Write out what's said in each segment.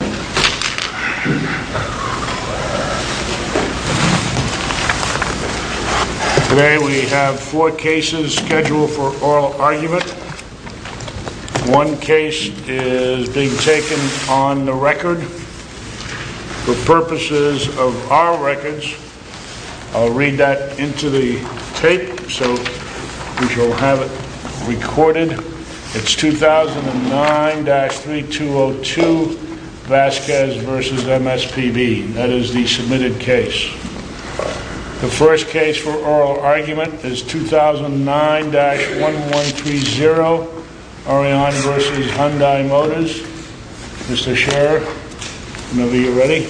Today we have four cases scheduled for oral argument. One case is being taken on the record for purposes of our records. I'll read that into the tape so that you'll have it recorded. It's 2009-3202 Vasquez v. MSPB. That is the submitted case. The first case for oral argument is 2009-1130 Orion v. Hyundai Motors. Mr. Scherer, whenever you're ready.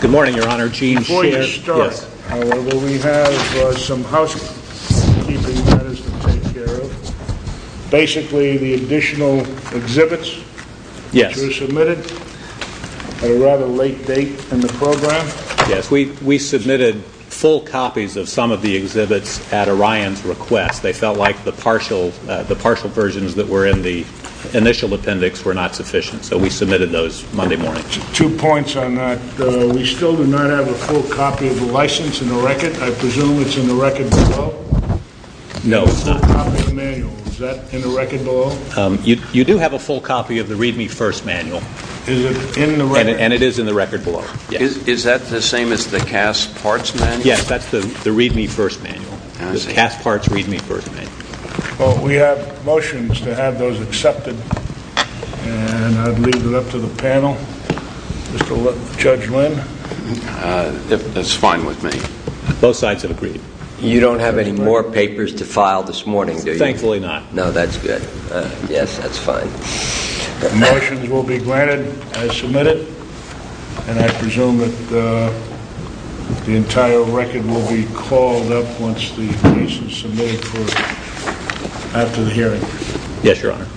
Good morning, Your Honor. Gene Scherer. Before you start, however, we have some housekeeping matters to take care of. Basically, the additional exhibits which were submitted at a rather late date in the program. Yes, we submitted full copies of some of the exhibits at Orion's request. They felt like the partial versions that were in the initial appendix were not sufficient, so we submitted those Monday morning. Two points on that. We still do not have a full copy of the license in the record. I presume it's in the record below? No, it's not. Is that in the record below? You do have a full copy of the Read Me First manual. Is it in the record? And it is in the record below. Is that the same as the Cass Parts manual? Yes, that's the Read Me First manual. The Cass Parts Read Me First manual. Well, we have motions to have those accepted, and I'd leave it up to the panel. Mr. Judge Lynn? That's fine with me. Both sides have agreed. You don't have any more papers to file this morning, do you? Thankfully not. No, that's good. Yes, that's fine. Motions will be granted as submitted, and I presume that the entire record will be called up once the case is submitted after the hearing. Yes, Your Honor.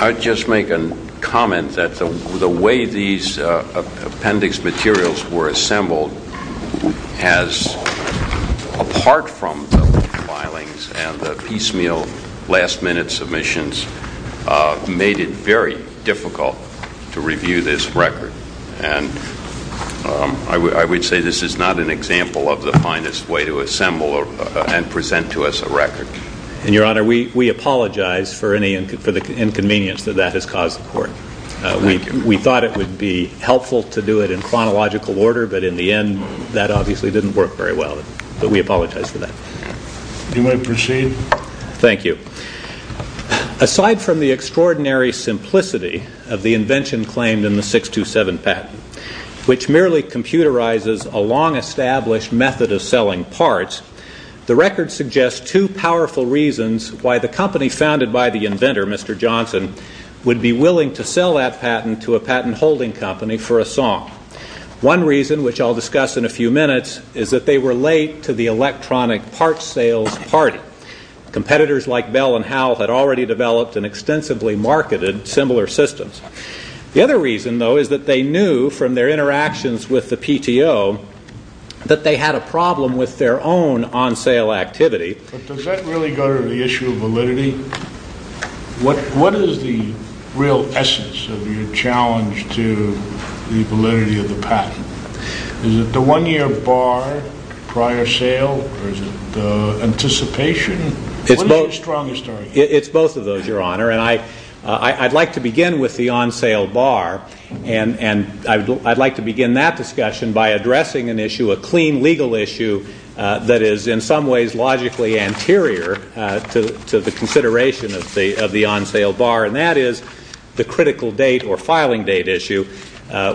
I'd just make a comment that the way these appendix materials were assembled, as apart from the filings and the piecemeal last-minute submissions, made it very difficult to review this record. And I would say this is not an example of the finest way to assemble and present to us a record. And, Your Honor, we apologize for the inconvenience that that has caused the Court. We thought it would be helpful to do it in chronological order, but in the end, that obviously didn't work very well. But we apologize for that. You may proceed. Thank you. Aside from the extraordinary simplicity of the invention claimed in the 627 patent, which merely computerizes a long-established method of selling parts, the record suggests two powerful reasons why the company founded by the inventor, Mr. Johnson, would be willing to sell that patent to a patent-holding company for a song. One reason, which I'll discuss in a few minutes, is that they were late to the electronic parts sales party. Competitors like Bell and Howell had already developed and extensively marketed similar systems. The other reason, though, is that they knew from their interactions with the PTO that they had a problem with their own on-sale activity. But does that really go to the issue of validity? What is the real essence of your challenge to the validity of the patent? Is it the one-year bar prior sale, or is it the anticipation? What is your strongest argument? It's both of those, Your Honor. And I'd like to begin with the on-sale bar, and I'd like to begin that discussion by addressing an issue, a clean legal issue, that is in some ways logically anterior to the consideration of the on-sale bar, and that is the critical date or filing date issue,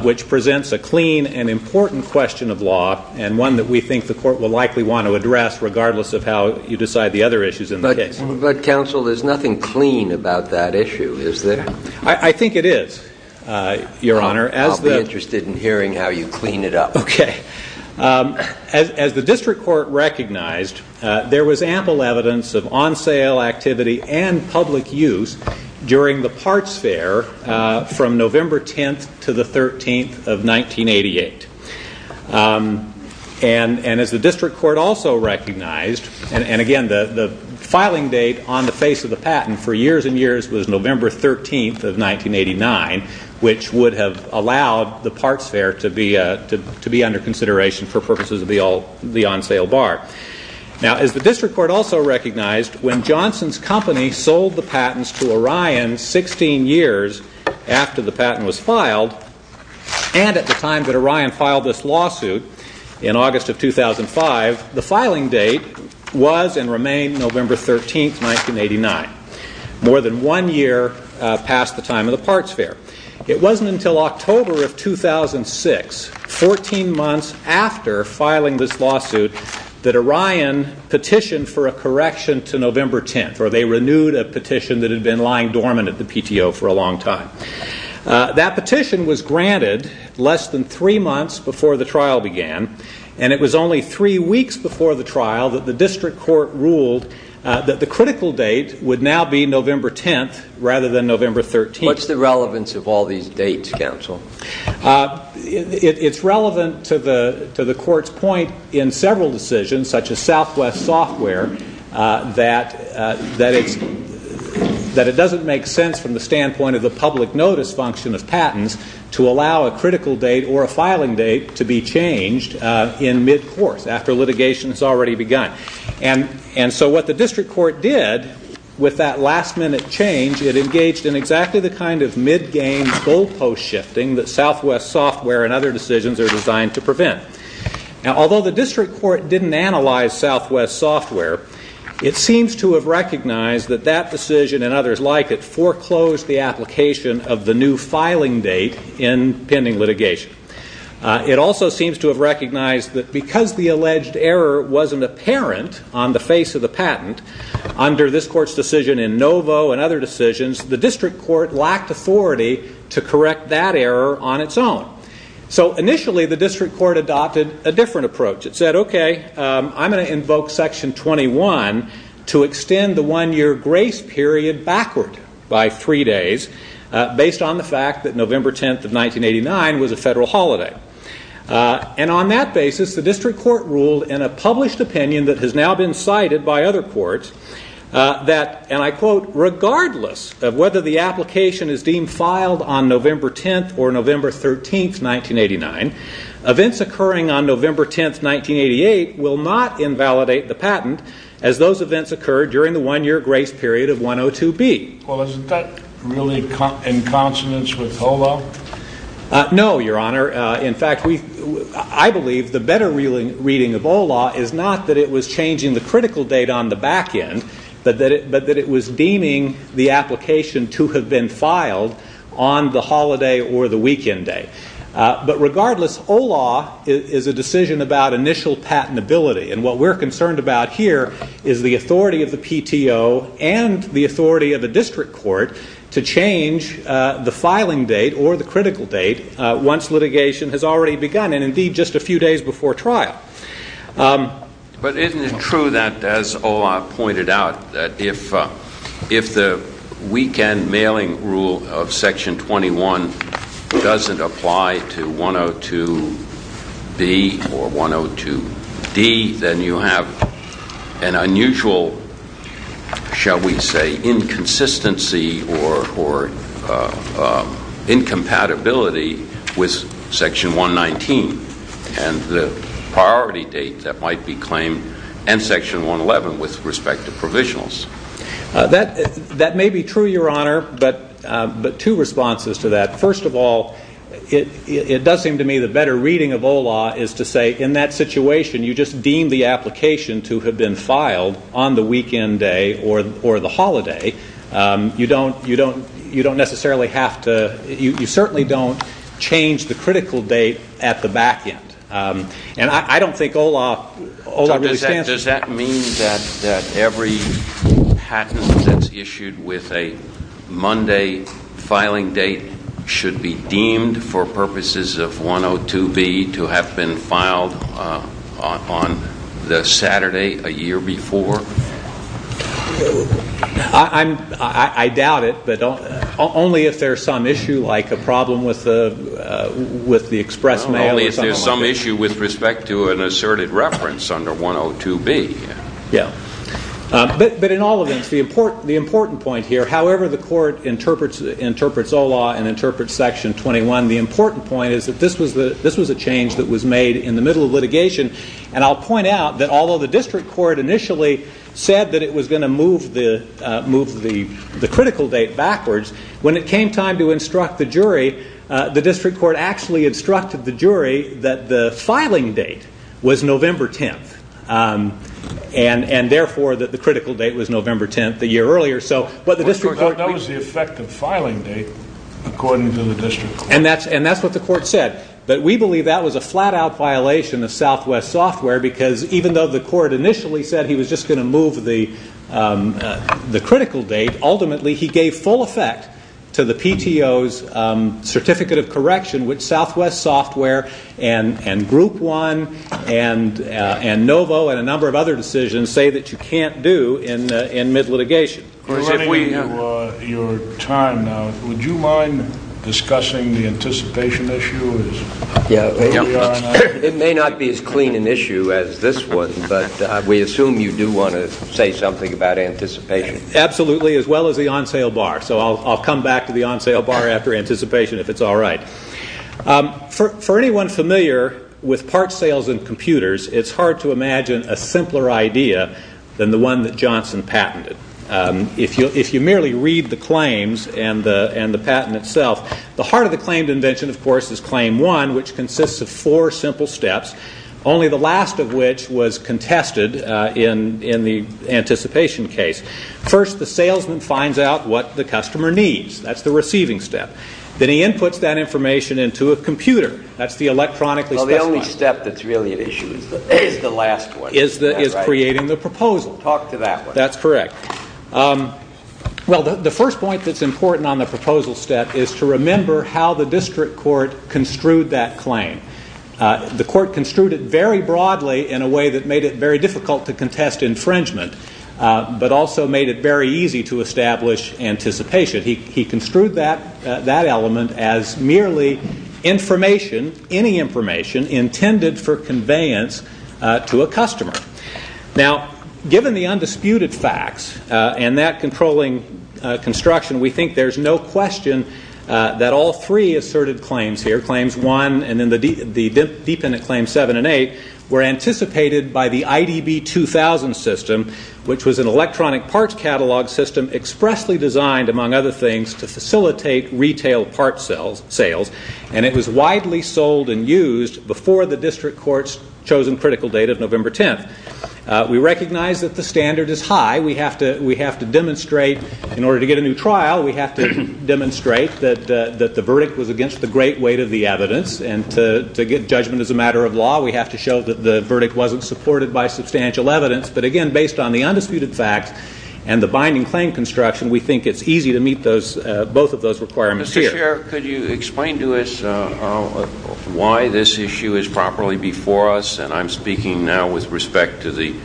which presents a clean and important question of law and one that we think the Court will likely want to address regardless of how you decide the other issues in the case. But, Counsel, there's nothing clean about that issue, is there? I think it is, Your Honor. I'll be interested in hearing how you clean it up. Okay. As the District Court recognized, there was ample evidence of on-sale activity and public use during the parts fair from November 10th to the 13th of 1988. And as the District Court also recognized, and again, the filing date on the face of the patent for years and years was November 13th of 1989, which would have allowed the parts fair to be under consideration for purposes of the on-sale bar. Now, as the District Court also recognized, when Johnson's company sold the patents to Orion 16 years after the patent was filed and at the time that Orion filed this lawsuit in August of 2005, the filing date was and remained November 13th, 1989, more than one year past the time of the parts fair. It wasn't until October of 2006, 14 months after filing this lawsuit, that Orion petitioned for a correction to November 10th, or they renewed a petition that had been lying dormant at the PTO for a long time. That petition was granted less than three months before the trial began, and it was only three weeks before the trial that the District Court ruled that the critical date would now be November 10th rather than November 13th. What's the relevance of all these dates, counsel? It's relevant to the Court's point in several decisions, such as Southwest Software, that it doesn't make sense from the standpoint of the public notice function of patents to allow a critical date or a filing date to be changed in mid-course, after litigation has already begun. And so what the District Court did with that last-minute change, it engaged in exactly the kind of mid-game goalpost shifting that Southwest Software and other decisions are designed to prevent. Now, although the District Court didn't analyze Southwest Software, it seems to have recognized that that decision and others like it foreclosed the application of the new filing date in pending litigation. It also seems to have recognized that because the alleged error wasn't apparent on the face of the patent, under this Court's decision in Novo and other decisions, the District Court lacked authority to correct that error on its own. So initially, the District Court adopted a different approach. It said, OK, I'm going to invoke Section 21 to extend the one-year grace period backward by three days, based on the fact that November 10th of 1989 was a federal holiday. And on that basis, the District Court ruled in a published opinion that has now been cited by other courts that, and I quote, regardless of whether the application is deemed filed on November 10th or November 13th, 1989, events occurring on November 10th, 1988 will not invalidate the patent as those events occurred during the one-year grace period of 102B. Well, isn't that really in consonance with HOLA? No, Your Honor. In fact, I believe the better reading of HOLA is not that it was changing the critical date on the back end, but that it was deeming the application to have been filed on the holiday or the weekend day. But regardless, HOLA is a decision about initial patentability, and what we're concerned about here is the authority of the PTO and the authority of the District Court to change the filing date or the critical date once litigation has already begun and indeed just a few days before trial. But isn't it true that, as HOLA pointed out, that if the weekend mailing rule of Section 21 doesn't apply to 102B or 102D, then you have an unusual, shall we say, inconsistency or incompatibility with Section 119 and the priority date that might be claimed and Section 111 with respect to provisionals? That may be true, Your Honor, but two responses to that. First of all, it does seem to me the better reading of HOLA is to say in that situation you just deem the application to have been filed on the weekend day or the holiday. You don't necessarily have to. You certainly don't change the critical date at the back end. And I don't think HOLA really stands for that. Does that mean that every patent that's issued with a Monday filing date should be deemed for purposes of 102B to have been filed on the Saturday a year before? I doubt it, but only if there's some issue like a problem with the express mail or something like that. It's an issue with respect to an asserted reference under 102B. Yeah. But in all events, the important point here, however the Court interprets HOLA and interprets Section 21, the important point is that this was a change that was made in the middle of litigation. And I'll point out that although the district court initially said that it was going to move the critical date backwards, when it came time to instruct the jury, the district court actually instructed the jury that the filing date was November 10th and therefore that the critical date was November 10th, the year earlier. That was the effective filing date, according to the district court. And that's what the court said. But we believe that was a flat-out violation of Southwest Software because even though the court initially said that he was just going to move the critical date, ultimately he gave full effect to the PTO's certificate of correction, which Southwest Software and Group One and NOVO and a number of other decisions say that you can't do in mid-litigation. We're running out of your time now. Would you mind discussing the anticipation issue? It may not be as clean an issue as this one, but we assume you do want to say something about anticipation. Absolutely, as well as the on-sale bar. So I'll come back to the on-sale bar after anticipation if it's all right. For anyone familiar with parts sales in computers, it's hard to imagine a simpler idea than the one that Johnson patented. If you merely read the claims and the patent itself, the heart of the claimed invention, of course, is claim one, which consists of four simple steps, only the last of which was contested in the anticipation case. First, the salesman finds out what the customer needs. That's the receiving step. Then he inputs that information into a computer. That's the electronically- Well, the only step that's really at issue is the last one. Is creating the proposal. Talk to that one. That's correct. Well, the first point that's important on the proposal step is to remember how the district court construed that claim. The court construed it very broadly in a way that made it very difficult to contest infringement, but also made it very easy to establish anticipation. He construed that element as merely information, any information, intended for conveyance to a customer. Now, given the undisputed facts and that controlling construction, we think there's no question that all three asserted claims here, claims one and then the dependent claims seven and eight, were anticipated by the IDB 2000 system, which was an electronic parts catalog system expressly designed, among other things, to facilitate retail parts sales. And it was widely sold and used before the district court's chosen critical date of November 10th. We recognize that the standard is high. We have to demonstrate, in order to get a new trial, we have to demonstrate that the verdict was against the great weight of the evidence. And to get judgment as a matter of law, we have to show that the verdict wasn't supported by substantial evidence. But, again, based on the undisputed facts and the binding claim construction, we think it's easy to meet both of those requirements here. Mr. Chair, could you explain to us why this issue is properly before us? And I'm speaking now with respect to the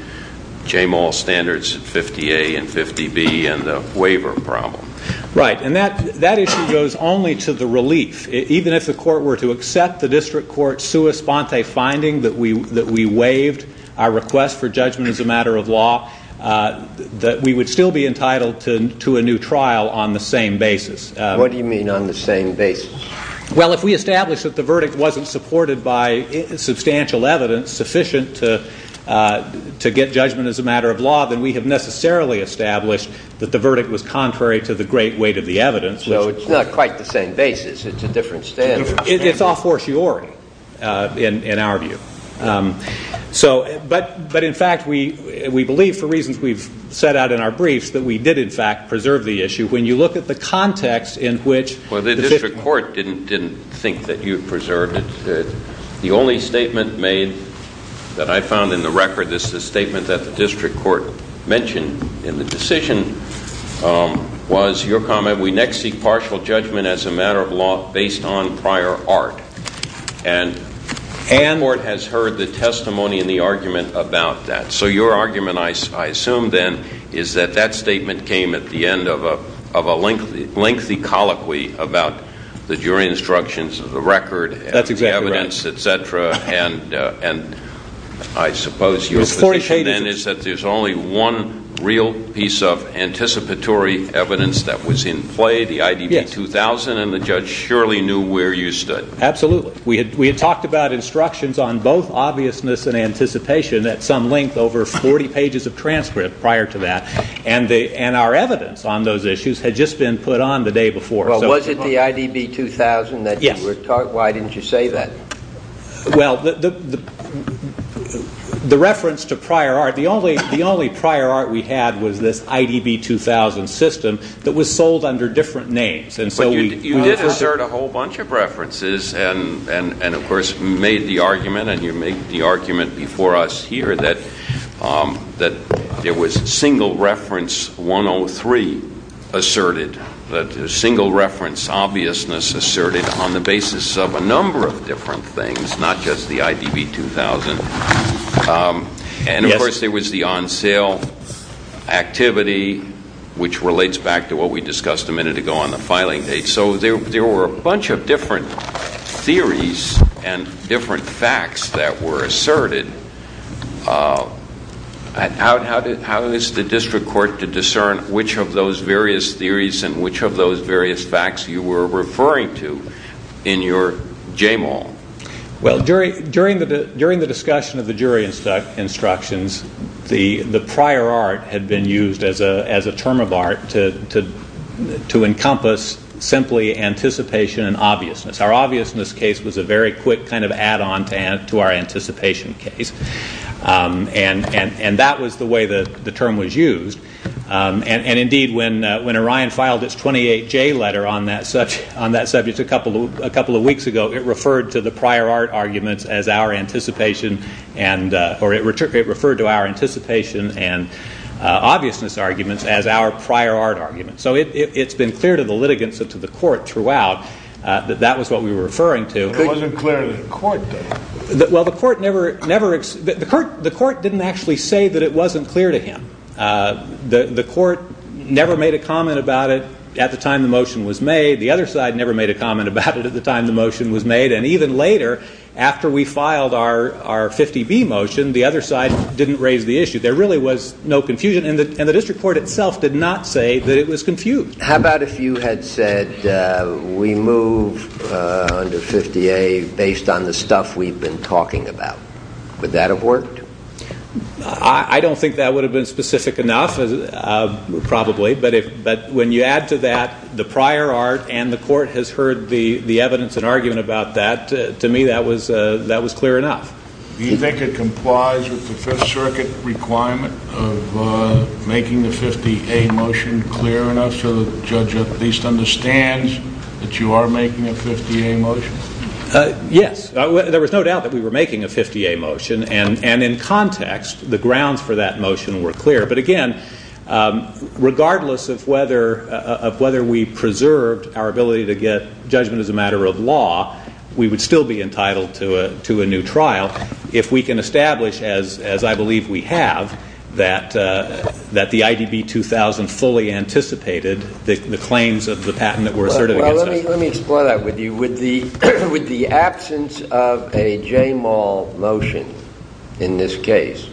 J-Mall standards 50A and 50B and the waiver problem. Right. And that issue goes only to the relief. Even if the court were to accept the district court's sua sponte finding that we waived our request for judgment as a matter of law, we would still be entitled to a new trial on the same basis. What do you mean on the same basis? Well, if we establish that the verdict wasn't supported by substantial evidence sufficient to get judgment as a matter of law, then we have necessarily established that the verdict was contrary to the great weight of the evidence. So it's not quite the same basis. It's a different standard. It's all fortiori, in our view. But, in fact, we believe, for reasons we've set out in our briefs, that we did, in fact, preserve the issue. When you look at the context in which the victim- Well, the district court didn't think that you preserved it. The only statement made that I found in the record is the statement that the district court mentioned in the decision was your comment, we next seek partial judgment as a matter of law based on prior art. And the district court has heard the testimony and the argument about that. So your argument, I assume then, is that that statement came at the end of a lengthy colloquy about the jury instructions of the record- That's exactly right. And the evidence, et cetera, and I suppose your position then is that there's only one real piece of anticipatory evidence that was in play, the IDB 2000, and the judge surely knew where you stood. Absolutely. We had talked about instructions on both obviousness and anticipation at some length over 40 pages of transcript prior to that, and our evidence on those issues had just been put on the day before. Well, was it the IDB 2000 that you were taught? Yes. Why didn't you say that? Well, the reference to prior art, the only prior art we had was this IDB 2000 system that was sold under different names. But you did assert a whole bunch of references and, of course, made the argument, and you made the argument before us here that there was single reference 103 asserted, that single reference obviousness asserted on the basis of a number of different things, not just the IDB 2000. And, of course, there was the on sale activity, which relates back to what we discussed a minute ago on the filing date. So there were a bunch of different theories and different facts that were asserted. How is the district court to discern which of those various theories and which of those various facts you were referring to in your JMAL? Well, during the discussion of the jury instructions, the prior art had been used as a term of art to encompass simply anticipation and obviousness. Our obviousness case was a very quick kind of add-on to our anticipation case, and that was the way the term was used. And, indeed, when Orion filed its 28J letter on that subject a couple of weeks ago, it referred to our anticipation and obviousness arguments as our prior art arguments. So it's been clear to the litigants and to the court throughout that that was what we were referring to. It wasn't clear to the court, though. Well, the court didn't actually say that it wasn't clear to him. The court never made a comment about it at the time the motion was made. The other side never made a comment about it at the time the motion was made. And even later, after we filed our 50B motion, the other side didn't raise the issue. There really was no confusion, and the district court itself did not say that it was confused. How about if you had said we move under 50A based on the stuff we've been talking about? Would that have worked? I don't think that would have been specific enough, probably. But when you add to that the prior art and the court has heard the evidence and argument about that, to me that was clear enough. Do you think it complies with the Fifth Circuit requirement of making the 50A motion clear enough so the judge at least understands that you are making a 50A motion? Yes. There was no doubt that we were making a 50A motion, and in context the grounds for that motion were clear. But again, regardless of whether we preserved our ability to get judgment as a matter of law, we would still be entitled to a new trial if we can establish, as I believe we have, that the IDB 2000 fully anticipated the claims of the patent that were asserted against us. Well, let me explore that with you. Would the absence of a JMAL motion in this case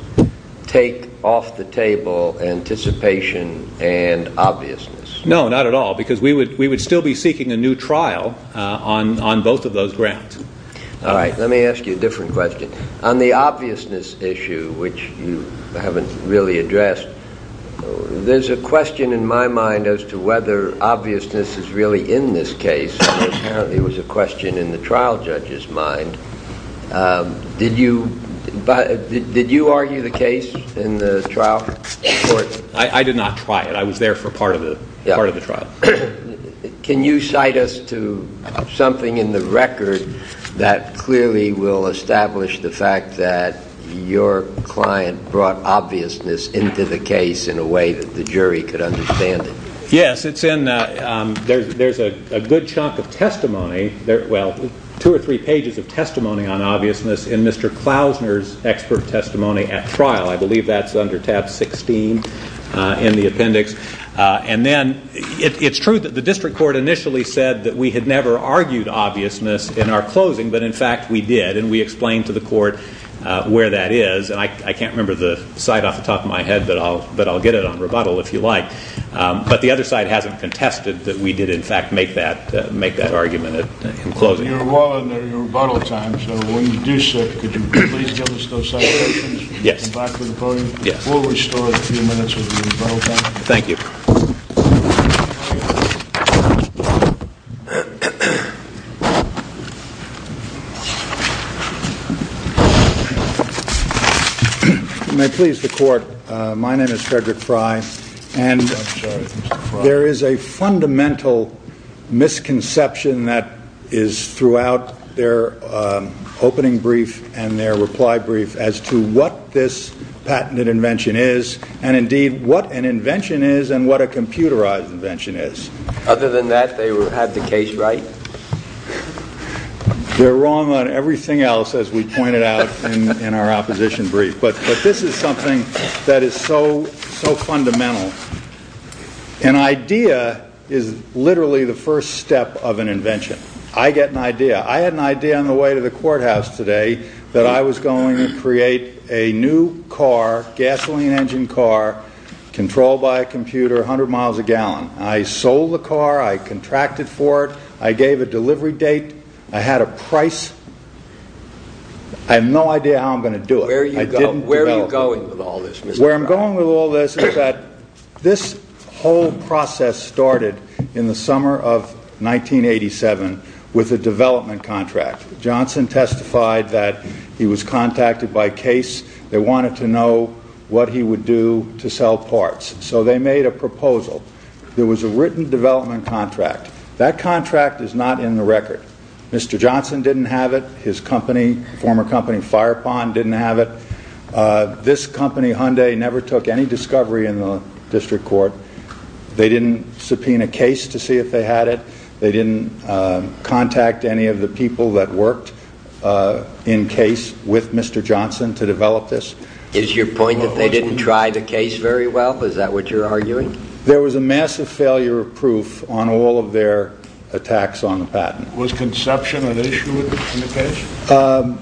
take off the table anticipation and obviousness? No, not at all, because we would still be seeking a new trial on both of those grounds. All right, let me ask you a different question. On the obviousness issue, which you haven't really addressed, there's a question in my mind as to whether obviousness is really in this case, and apparently it was a question in the trial judge's mind. Did you argue the case in the trial court? I did not try it. I was there for part of the trial. Can you cite us to something in the record that clearly will establish the fact that your client brought obviousness into the case in a way that the jury could understand it? Yes, there's a good chunk of testimony, well, two or three pages of testimony on obviousness, in Mr. Klausner's expert testimony at trial. I believe that's under tab 16 in the appendix. And then it's true that the district court initially said that we had never argued obviousness in our closing, but, in fact, we did, and we explained to the court where that is. And I can't remember the site off the top of my head, but I'll get it on rebuttal if you like. But the other side hasn't contested that we did, in fact, make that argument in closing. You're well under your rebuttal time, so when you do, sir, could you please give us those citations? Yes. And back to the podium. Yes. We'll restore a few minutes of your rebuttal time. Thank you. If you may please the court, my name is Frederick Fry. And there is a fundamental misconception that is throughout their opening brief and their reply brief as to what this patented invention is, and, indeed, what an invention is and what a computerized invention is. Other than that, they had the case right? They're wrong on everything else, as we pointed out in our opposition brief. But this is something that is so fundamental. An idea is literally the first step of an invention. I get an idea. I had an idea on the way to the courthouse today that I was going to create a new car, gasoline engine car, controlled by a computer, 100 miles a gallon. I sold the car. I contracted for it. I gave a delivery date. I had a price. I have no idea how I'm going to do it. Where are you going with all this? Where I'm going with all this is that this whole process started in the summer of 1987 with a development contract. Johnson testified that he was contacted by Case. They wanted to know what he would do to sell parts. So they made a proposal. There was a written development contract. That contract is not in the record. Mr. Johnson didn't have it. His company, former company Fire Pond, didn't have it. This company, Hyundai, never took any discovery in the district court. They didn't subpoena Case to see if they had it. They didn't contact any of the people that worked in Case with Mr. Johnson to develop this. Is your point that they didn't try the Case very well? Is that what you're arguing? There was a massive failure of proof on all of their attacks on the patent. Was conception an issue in the Case?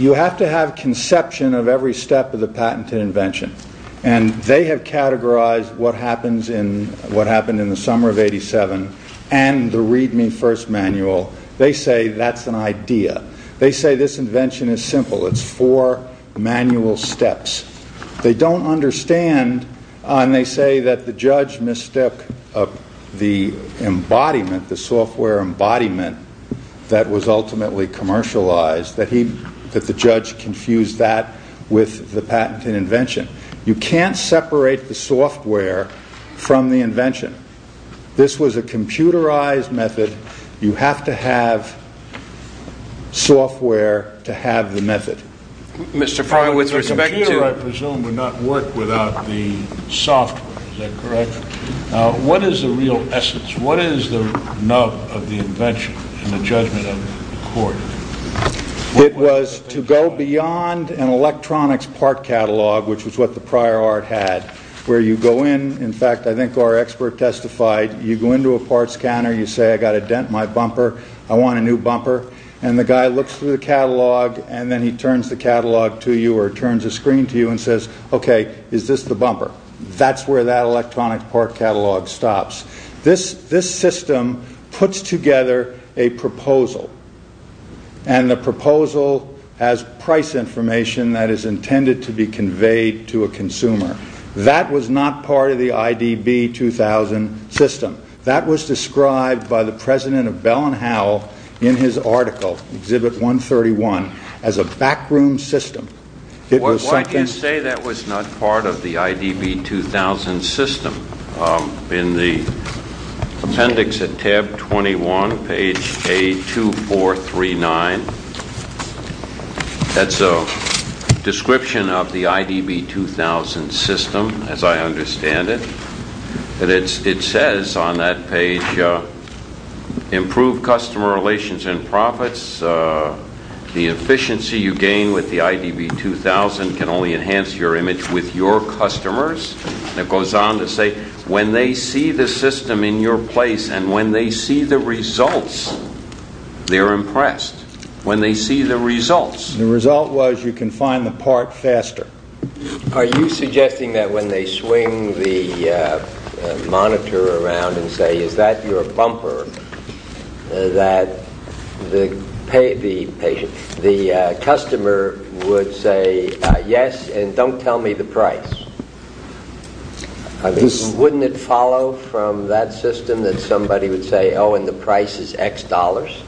You have to have conception of every step of the patent and invention. They have categorized what happened in the summer of 1987 and the Read Me First manual. They say that's an idea. They say this invention is simple. It's four manual steps. They don't understand and they say that the judge mistook the embodiment, the software embodiment that was ultimately commercialized, that the judge confused that with the patent and invention. You can't separate the software from the invention. This was a computerized method. You have to have software to have the method. A computer, I presume, would not work without the software. Is that correct? What is the real essence? What is the nub of the invention in the judgment of the court? It was to go beyond an electronics part catalog, which was what the prior art had, where you go in. In fact, I think our expert testified. You go into a part scanner. You say, I've got a dent in my bumper. I want a new bumper. The guy looks through the catalog and then he turns the catalog to you or turns the screen to you and says, okay, is this the bumper? That's where that electronics part catalog stops. This system puts together a proposal, and the proposal has price information that is intended to be conveyed to a consumer. That was not part of the IDB 2000 system. That was described by the president of Bell & Howell in his article, Exhibit 131, as a backroom system. Why do you say that was not part of the IDB 2000 system? In the appendix at tab 21, page A2439, that's a description of the IDB 2000 system, as I understand it. It says on that page, improve customer relations and profits. The efficiency you gain with the IDB 2000 can only enhance your image with your customers. It goes on to say, when they see the system in your place and when they see the results, they're impressed. When they see the results. The result was you can find the part faster. Are you suggesting that when they swing the monitor around and say, is that your bumper, that the customer would say, yes, and don't tell me the price? Wouldn't it follow from that system that somebody would say, oh, and the price is X dollars?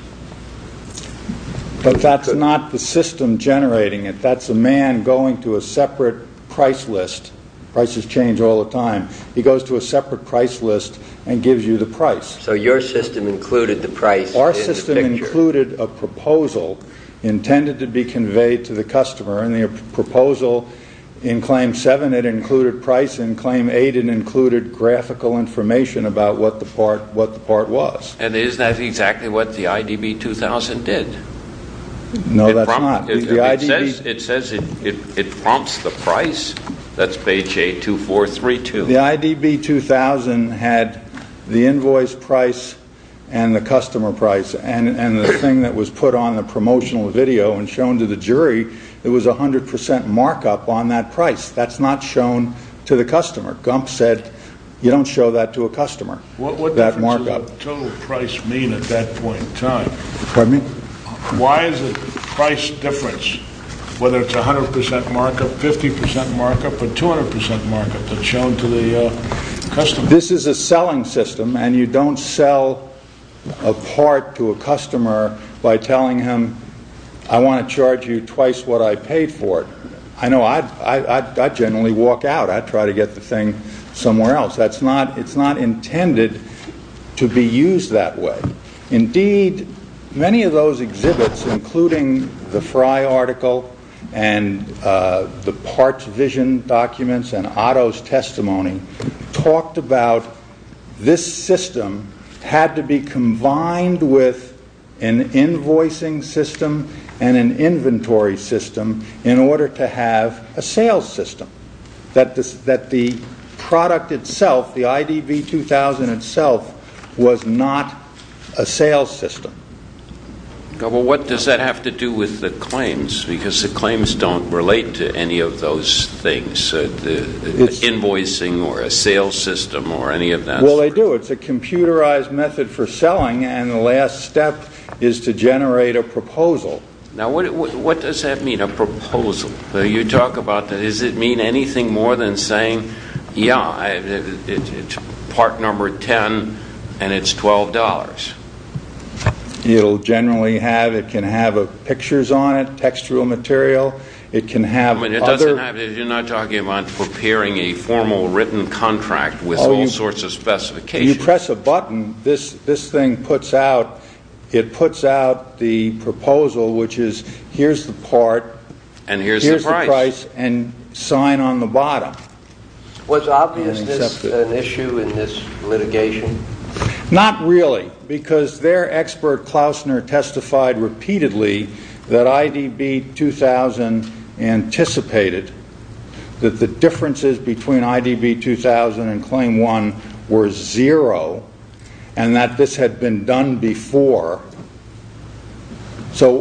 But that's not the system generating it. That's a man going to a separate price list. Prices change all the time. He goes to a separate price list and gives you the price. So your system included the price in the picture. Our system included a proposal intended to be conveyed to the customer, and the proposal in Claim 7, it included price. In Claim 8, it included graphical information about what the part was. And isn't that exactly what the IDB 2000 did? No, that's not. It says it prompts the price. That's page 82432. The IDB 2000 had the invoice price and the customer price, and the thing that was put on the promotional video and shown to the jury, it was 100% markup on that price. That's not shown to the customer. Gump said you don't show that to a customer, that markup. What does the total price mean at that point in time? Pardon me? Why is the price difference whether it's 100% markup, 50% markup, or 200% markup that's shown to the customer? This is a selling system, and you don't sell a part to a customer by telling him, I want to charge you twice what I paid for it. I know I generally walk out. I try to get the thing somewhere else. It's not intended to be used that way. Indeed, many of those exhibits, including the Fry article and the parts vision documents and Otto's testimony, talked about this system had to be combined with an invoicing system and an inventory system in order to have a sales system, that the product itself, the IDB 2000 itself, was not a sales system. What does that have to do with the claims? Because the claims don't relate to any of those things, the invoicing or a sales system or any of that. Well, they do. It's a computerized method for selling, and the last step is to generate a proposal. Now, what does that mean, a proposal? You talk about does it mean anything more than saying, yeah, it's part number 10 and it's $12. It can have pictures on it, textual material. You're not talking about preparing a formal written contract with all sorts of specifications. You press a button, this thing puts out the proposal, which is here's the part, here's the price, and sign on the bottom. Was obviousness an issue in this litigation? Not really, because their expert, Klausner, testified repeatedly that IDB 2000 anticipated that the differences between IDB 2000 and Claim 1 were zero and that this had been done before. So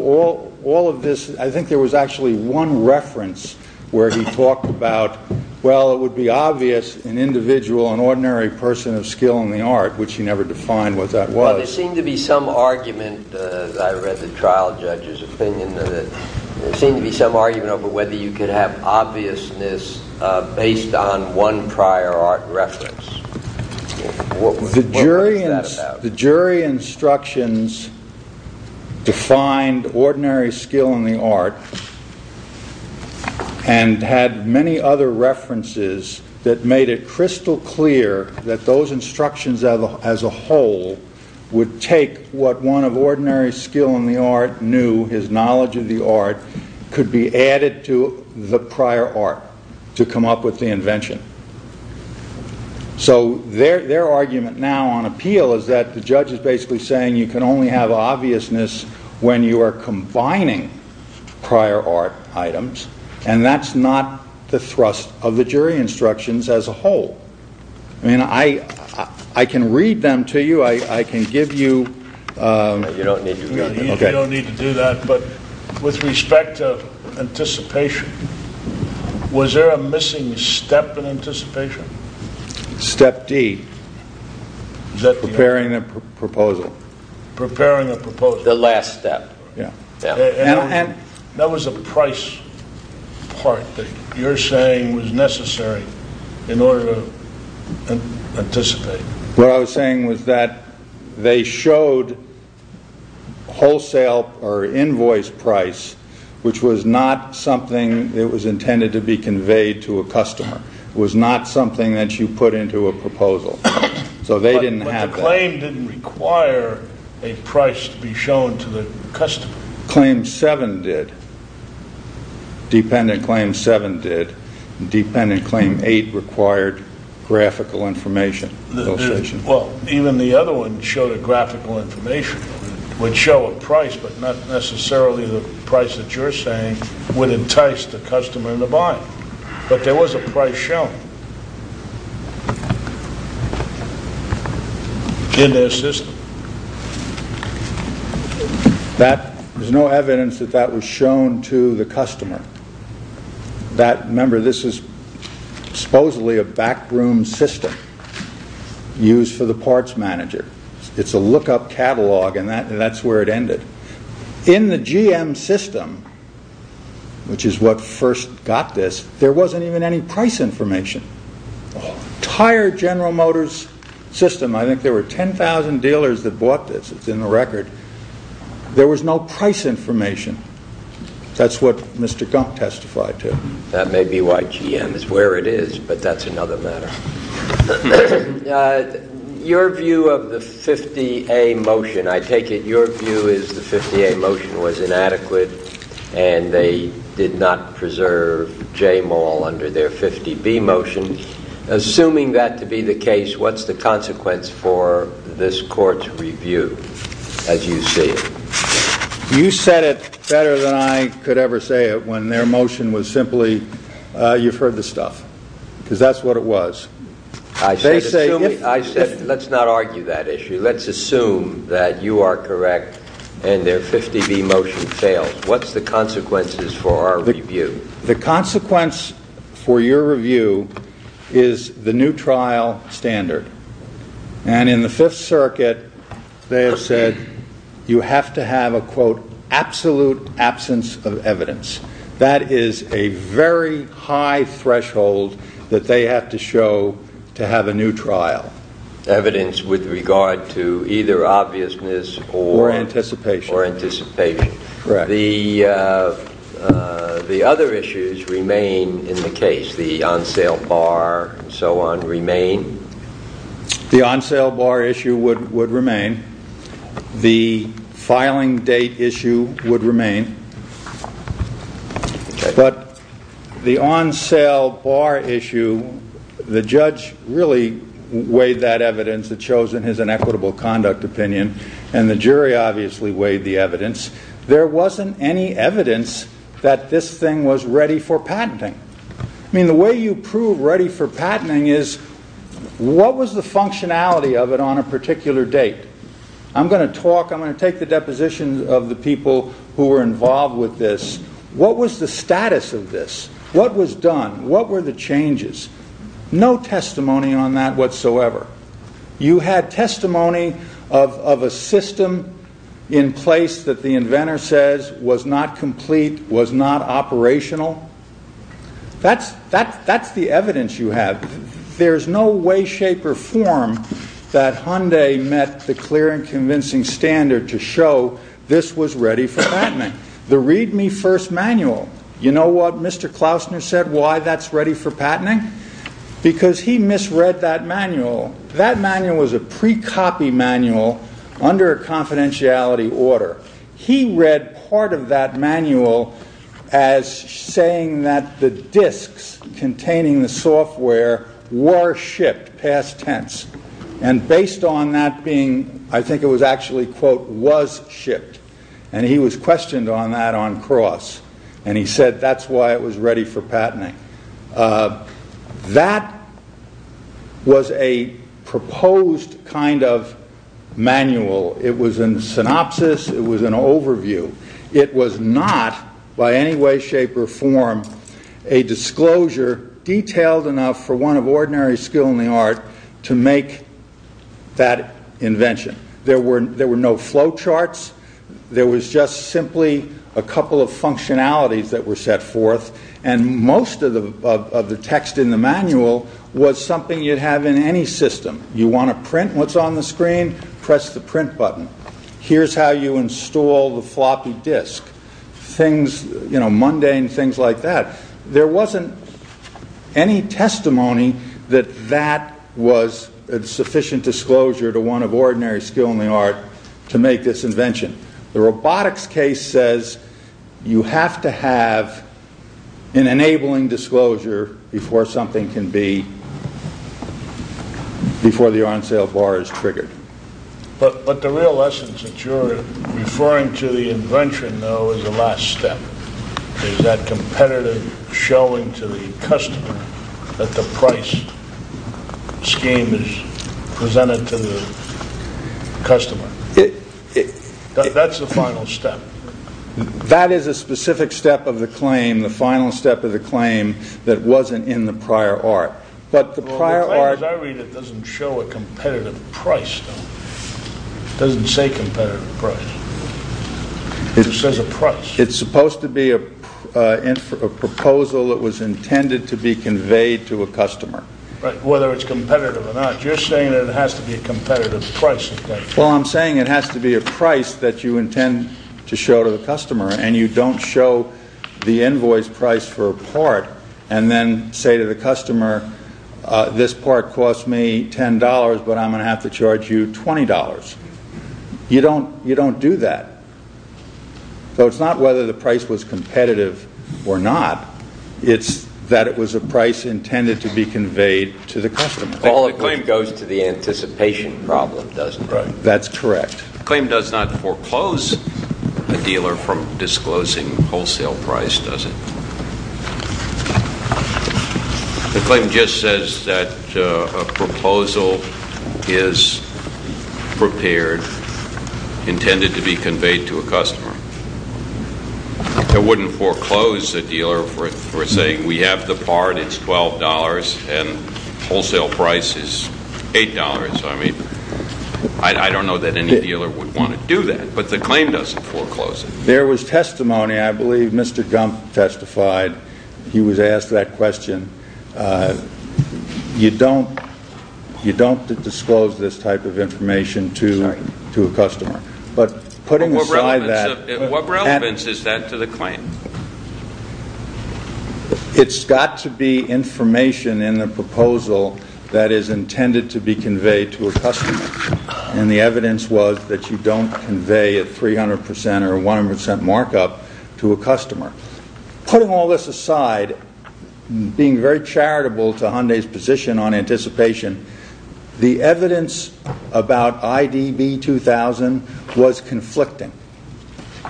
all of this, I think there was actually one reference where he talked about, well, it would be obvious an individual, an ordinary person of skill in the art, which he never defined what that was. Well, there seemed to be some argument, as I read the trial judge's opinion, there seemed to be some argument over whether you could have obviousness based on one prior art reference. What was that about? That the jury instructions defined ordinary skill in the art and had many other references that made it crystal clear that those instructions as a whole would take what one of ordinary skill in the art knew, his knowledge of the art, could be added to the prior art to come up with the invention. So their argument now on appeal is that the judge is basically saying you can only have obviousness when you are combining prior art items and that's not the thrust of the jury instructions as a whole. I mean, I can read them to you, I can give you... You don't need to do that, but with respect to anticipation, was there a missing step in anticipation? Step D. Preparing a proposal. Preparing a proposal. The last step. That was a price part that you're saying was necessary in order to anticipate. What I was saying was that they showed wholesale or invoice price, which was not something that was intended to be conveyed to a customer. It was not something that you put into a proposal. So they didn't have that. But the claim didn't require a price to be shown to the customer. Claim 7 did. Dependent Claim 7 did. Dependent Claim 8 required graphical information. Well, even the other one showed a graphical information would show a price, but not necessarily the price that you're saying would entice the customer into buying. But there was a price shown in their system. There's no evidence that that was shown to the customer. Remember, this is supposedly a backroom system used for the parts manager. It's a lookup catalog, and that's where it ended. In the GM system, which is what first got this, there wasn't even any price information. The entire General Motors system, I think there were 10,000 dealers that bought this. It's in the record. There was no price information. That's what Mr. Gump testified to. That may be why GM is where it is, but that's another matter. Your view of the 50A motion. I take it your view is the 50A motion was inadequate, and they did not preserve J Maul under their 50B motion. Assuming that to be the case, what's the consequence for this court's review, as you see it? You said it better than I could ever say it when their motion was simply, you've heard the stuff, because that's what it was. I said, let's not argue that issue. Let's assume that you are correct and their 50B motion fails. What's the consequences for our review? The consequence for your review is the new trial standard, and in the Fifth Circuit, they have said you have to have a, quote, absolute absence of evidence. That is a very high threshold that they have to show to have a new trial. Evidence with regard to either obviousness or anticipation. The other issues remain in the case. The on-sale bar and so on remain. The on-sale bar issue would remain. The filing date issue would remain. But the on-sale bar issue, the judge really weighed that evidence. It shows in his inequitable conduct opinion, and the jury obviously weighed the evidence. There wasn't any evidence that this thing was ready for patenting. I mean, the way you prove ready for patenting is, what was the functionality of it on a particular date? I'm going to talk, I'm going to take the depositions of the people who were involved with this. What was the status of this? What was done? What were the changes? No testimony on that whatsoever. You had testimony of a system in place that the inventor says was not complete, was not operational. That's the evidence you have. There's no way, shape, or form that Hyundai met the clear and convincing standard to show this was ready for patenting. The read-me-first manual, you know what Mr. Klausner said, why that's ready for patenting? Because he misread that manual. That manual was a pre-copy manual under a confidentiality order. He read part of that manual as saying that the disks containing the software were shipped past tense. And based on that being, I think it was actually, quote, was shipped. And he was questioned on that on cross. And he said that's why it was ready for patenting. That was a proposed kind of manual. It was in synopsis, it was an overview. It was not, by any way, shape, or form, a disclosure detailed enough for one of ordinary skill in the art to make that invention. There were no flow charts. There was just simply a couple of functionalities that were set forth. And most of the text in the manual was something you'd have in any system. You want to print what's on the screen? Press the print button. Here's how you install the floppy disk. Things, you know, mundane things like that. There wasn't any testimony that that was a sufficient disclosure to one of ordinary skill in the art to make this invention. The robotics case says you have to have an enabling disclosure before something can be, before the on-sale bar is triggered. But the real essence that you're referring to the invention, though, is the last step. Is that competitive showing to the customer that the price scheme is presented to the customer. That's the final step. That is a specific step of the claim, the final step of the claim, that wasn't in the prior art. The claim as I read it doesn't show a competitive price, though. It doesn't say competitive price. It just says a price. It's supposed to be a proposal that was intended to be conveyed to a customer. Whether it's competitive or not, you're saying it has to be a competitive price. Well, I'm saying it has to be a price that you intend to show to the customer and you don't show the invoice price for a part and then say to the customer, this part cost me $10, but I'm going to have to charge you $20. You don't do that. So it's not whether the price was competitive or not. It's that it was a price intended to be conveyed to the customer. The claim goes to the anticipation problem, doesn't it? That's correct. The claim does not foreclose a dealer from disclosing wholesale price, does it? The claim just says that a proposal is prepared, intended to be conveyed to a customer. It wouldn't foreclose a dealer for saying we have the part, it's $12, and wholesale price is $8. I don't know that any dealer would want to do that, but the claim doesn't foreclose it. There was testimony. I believe Mr. Gump testified. He was asked that question. You don't disclose this type of information to a customer. What relevance is that to the claim? It's got to be information in the proposal that is intended to be conveyed to a customer, and the evidence was that you don't convey a 300% or 100% markup to a customer. Putting all this aside, being very charitable to Hyundai's position on anticipation, the evidence about IDB 2000 was conflicting.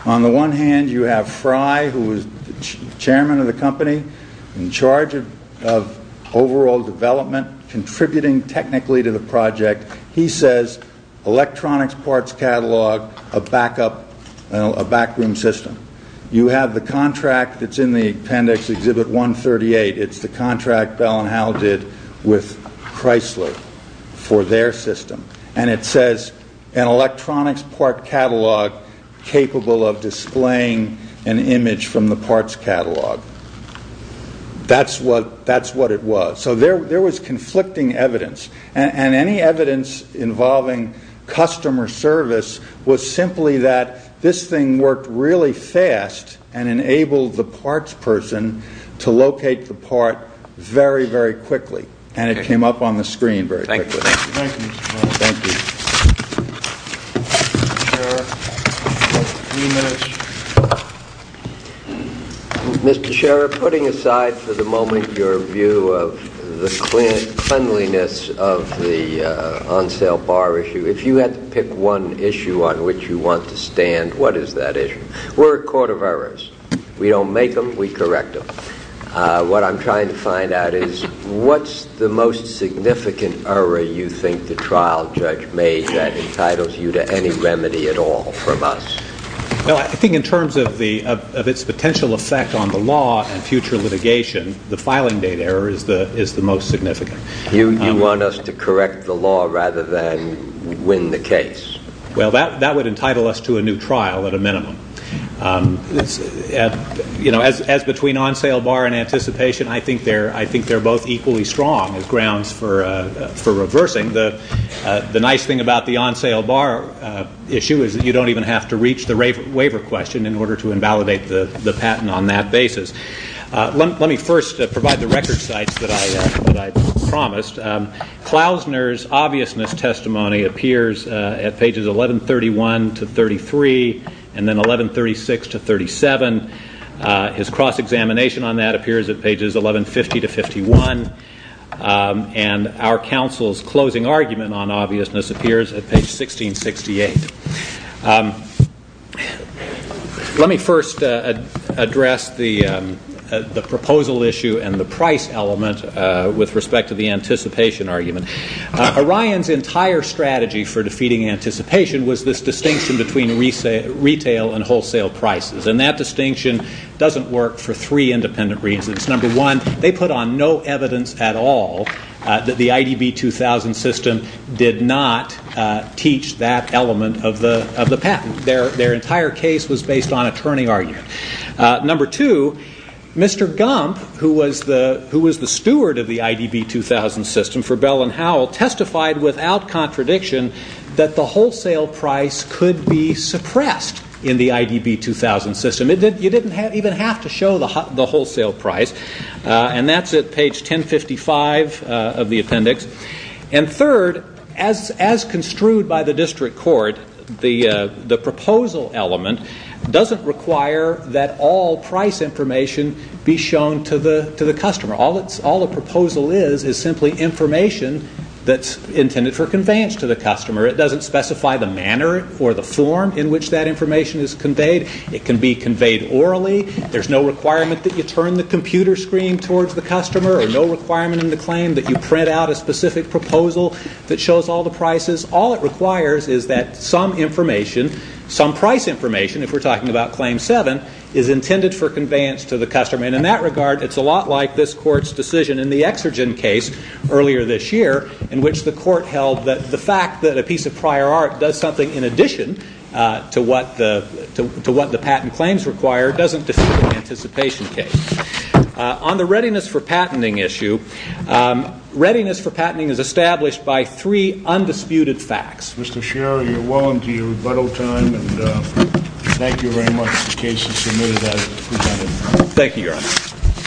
On the one hand, you have Fry, who was chairman of the company, in charge of overall development, contributing technically to the project. He says electronics parts catalog, a backroom system. You have the contract that's in the appendix, Exhibit 138. It's the contract Bell & Howell did with Chrysler for their system, and it says an electronics part catalog capable of displaying an image from the parts catalog. That's what it was. So there was conflicting evidence, and any evidence involving customer service was simply that this thing worked really fast and enabled the parts person to locate the part very, very quickly, and it came up on the screen very quickly. Thank you. Thank you. Mr. Sheriff, putting aside for the moment your view of the cleanliness of the on-sale bar issue, if you had to pick one issue on which you want to stand, what is that issue? We're a court of errors. We don't make them, we correct them. What I'm trying to find out is what's the most significant error you think the trial judge made that entitles you to any remedy at all from us? Well, I think in terms of its potential effect on the law and future litigation, the filing date error is the most significant. You want us to correct the law rather than win the case. Well, that would entitle us to a new trial at a minimum. As between on-sale bar and anticipation, I think they're both equally strong as grounds for reversing. The nice thing about the on-sale bar issue is that you don't even have to reach the waiver question in order to invalidate the patent on that basis. Let me first provide the record sites that I promised. Klausner's obviousness testimony appears at pages 1131-33 and then 1136-37. His cross-examination on that appears at pages 1150-51, and our counsel's closing argument on obviousness appears at page 1668. Let me first address the proposal issue and the price element with respect to the anticipation argument. Orion's entire strategy for defeating anticipation was this distinction between retail and wholesale prices, and that distinction doesn't work for three independent reasons. Number one, they put on no evidence at all that the IDB-2000 system did not teach that element of the patent. Their entire case was based on a turning argument. Number two, Mr. Gump, who was the steward of the IDB-2000 system for Bell & Howell, testified without contradiction that the wholesale price could be suppressed in the IDB-2000 system. You didn't even have to show the wholesale price. And that's at page 1055 of the appendix. And third, as construed by the district court, the proposal element doesn't require that all price information be shown to the customer. All the proposal is is simply information that's intended for conveyance to the customer. It doesn't specify the manner or the form in which that information is conveyed. It can be conveyed orally. There's no requirement that you turn the computer screen towards the customer or no requirement in the claim that you print out a specific proposal that shows all the prices. All it requires is that some information, some price information, if we're talking about Claim 7, is intended for conveyance to the customer. And in that regard, it's a lot like this court's decision in the Exergen case earlier this year in which the court held that the fact that a piece of prior art does something in addition to what the patent claims require doesn't defeat the anticipation case. On the readiness for patenting issue, readiness for patenting is established by three undisputed facts. Mr. Scherer, you're well into your rebuttal time, and thank you very much. The case is submitted as presented. Thank you, Your Honor.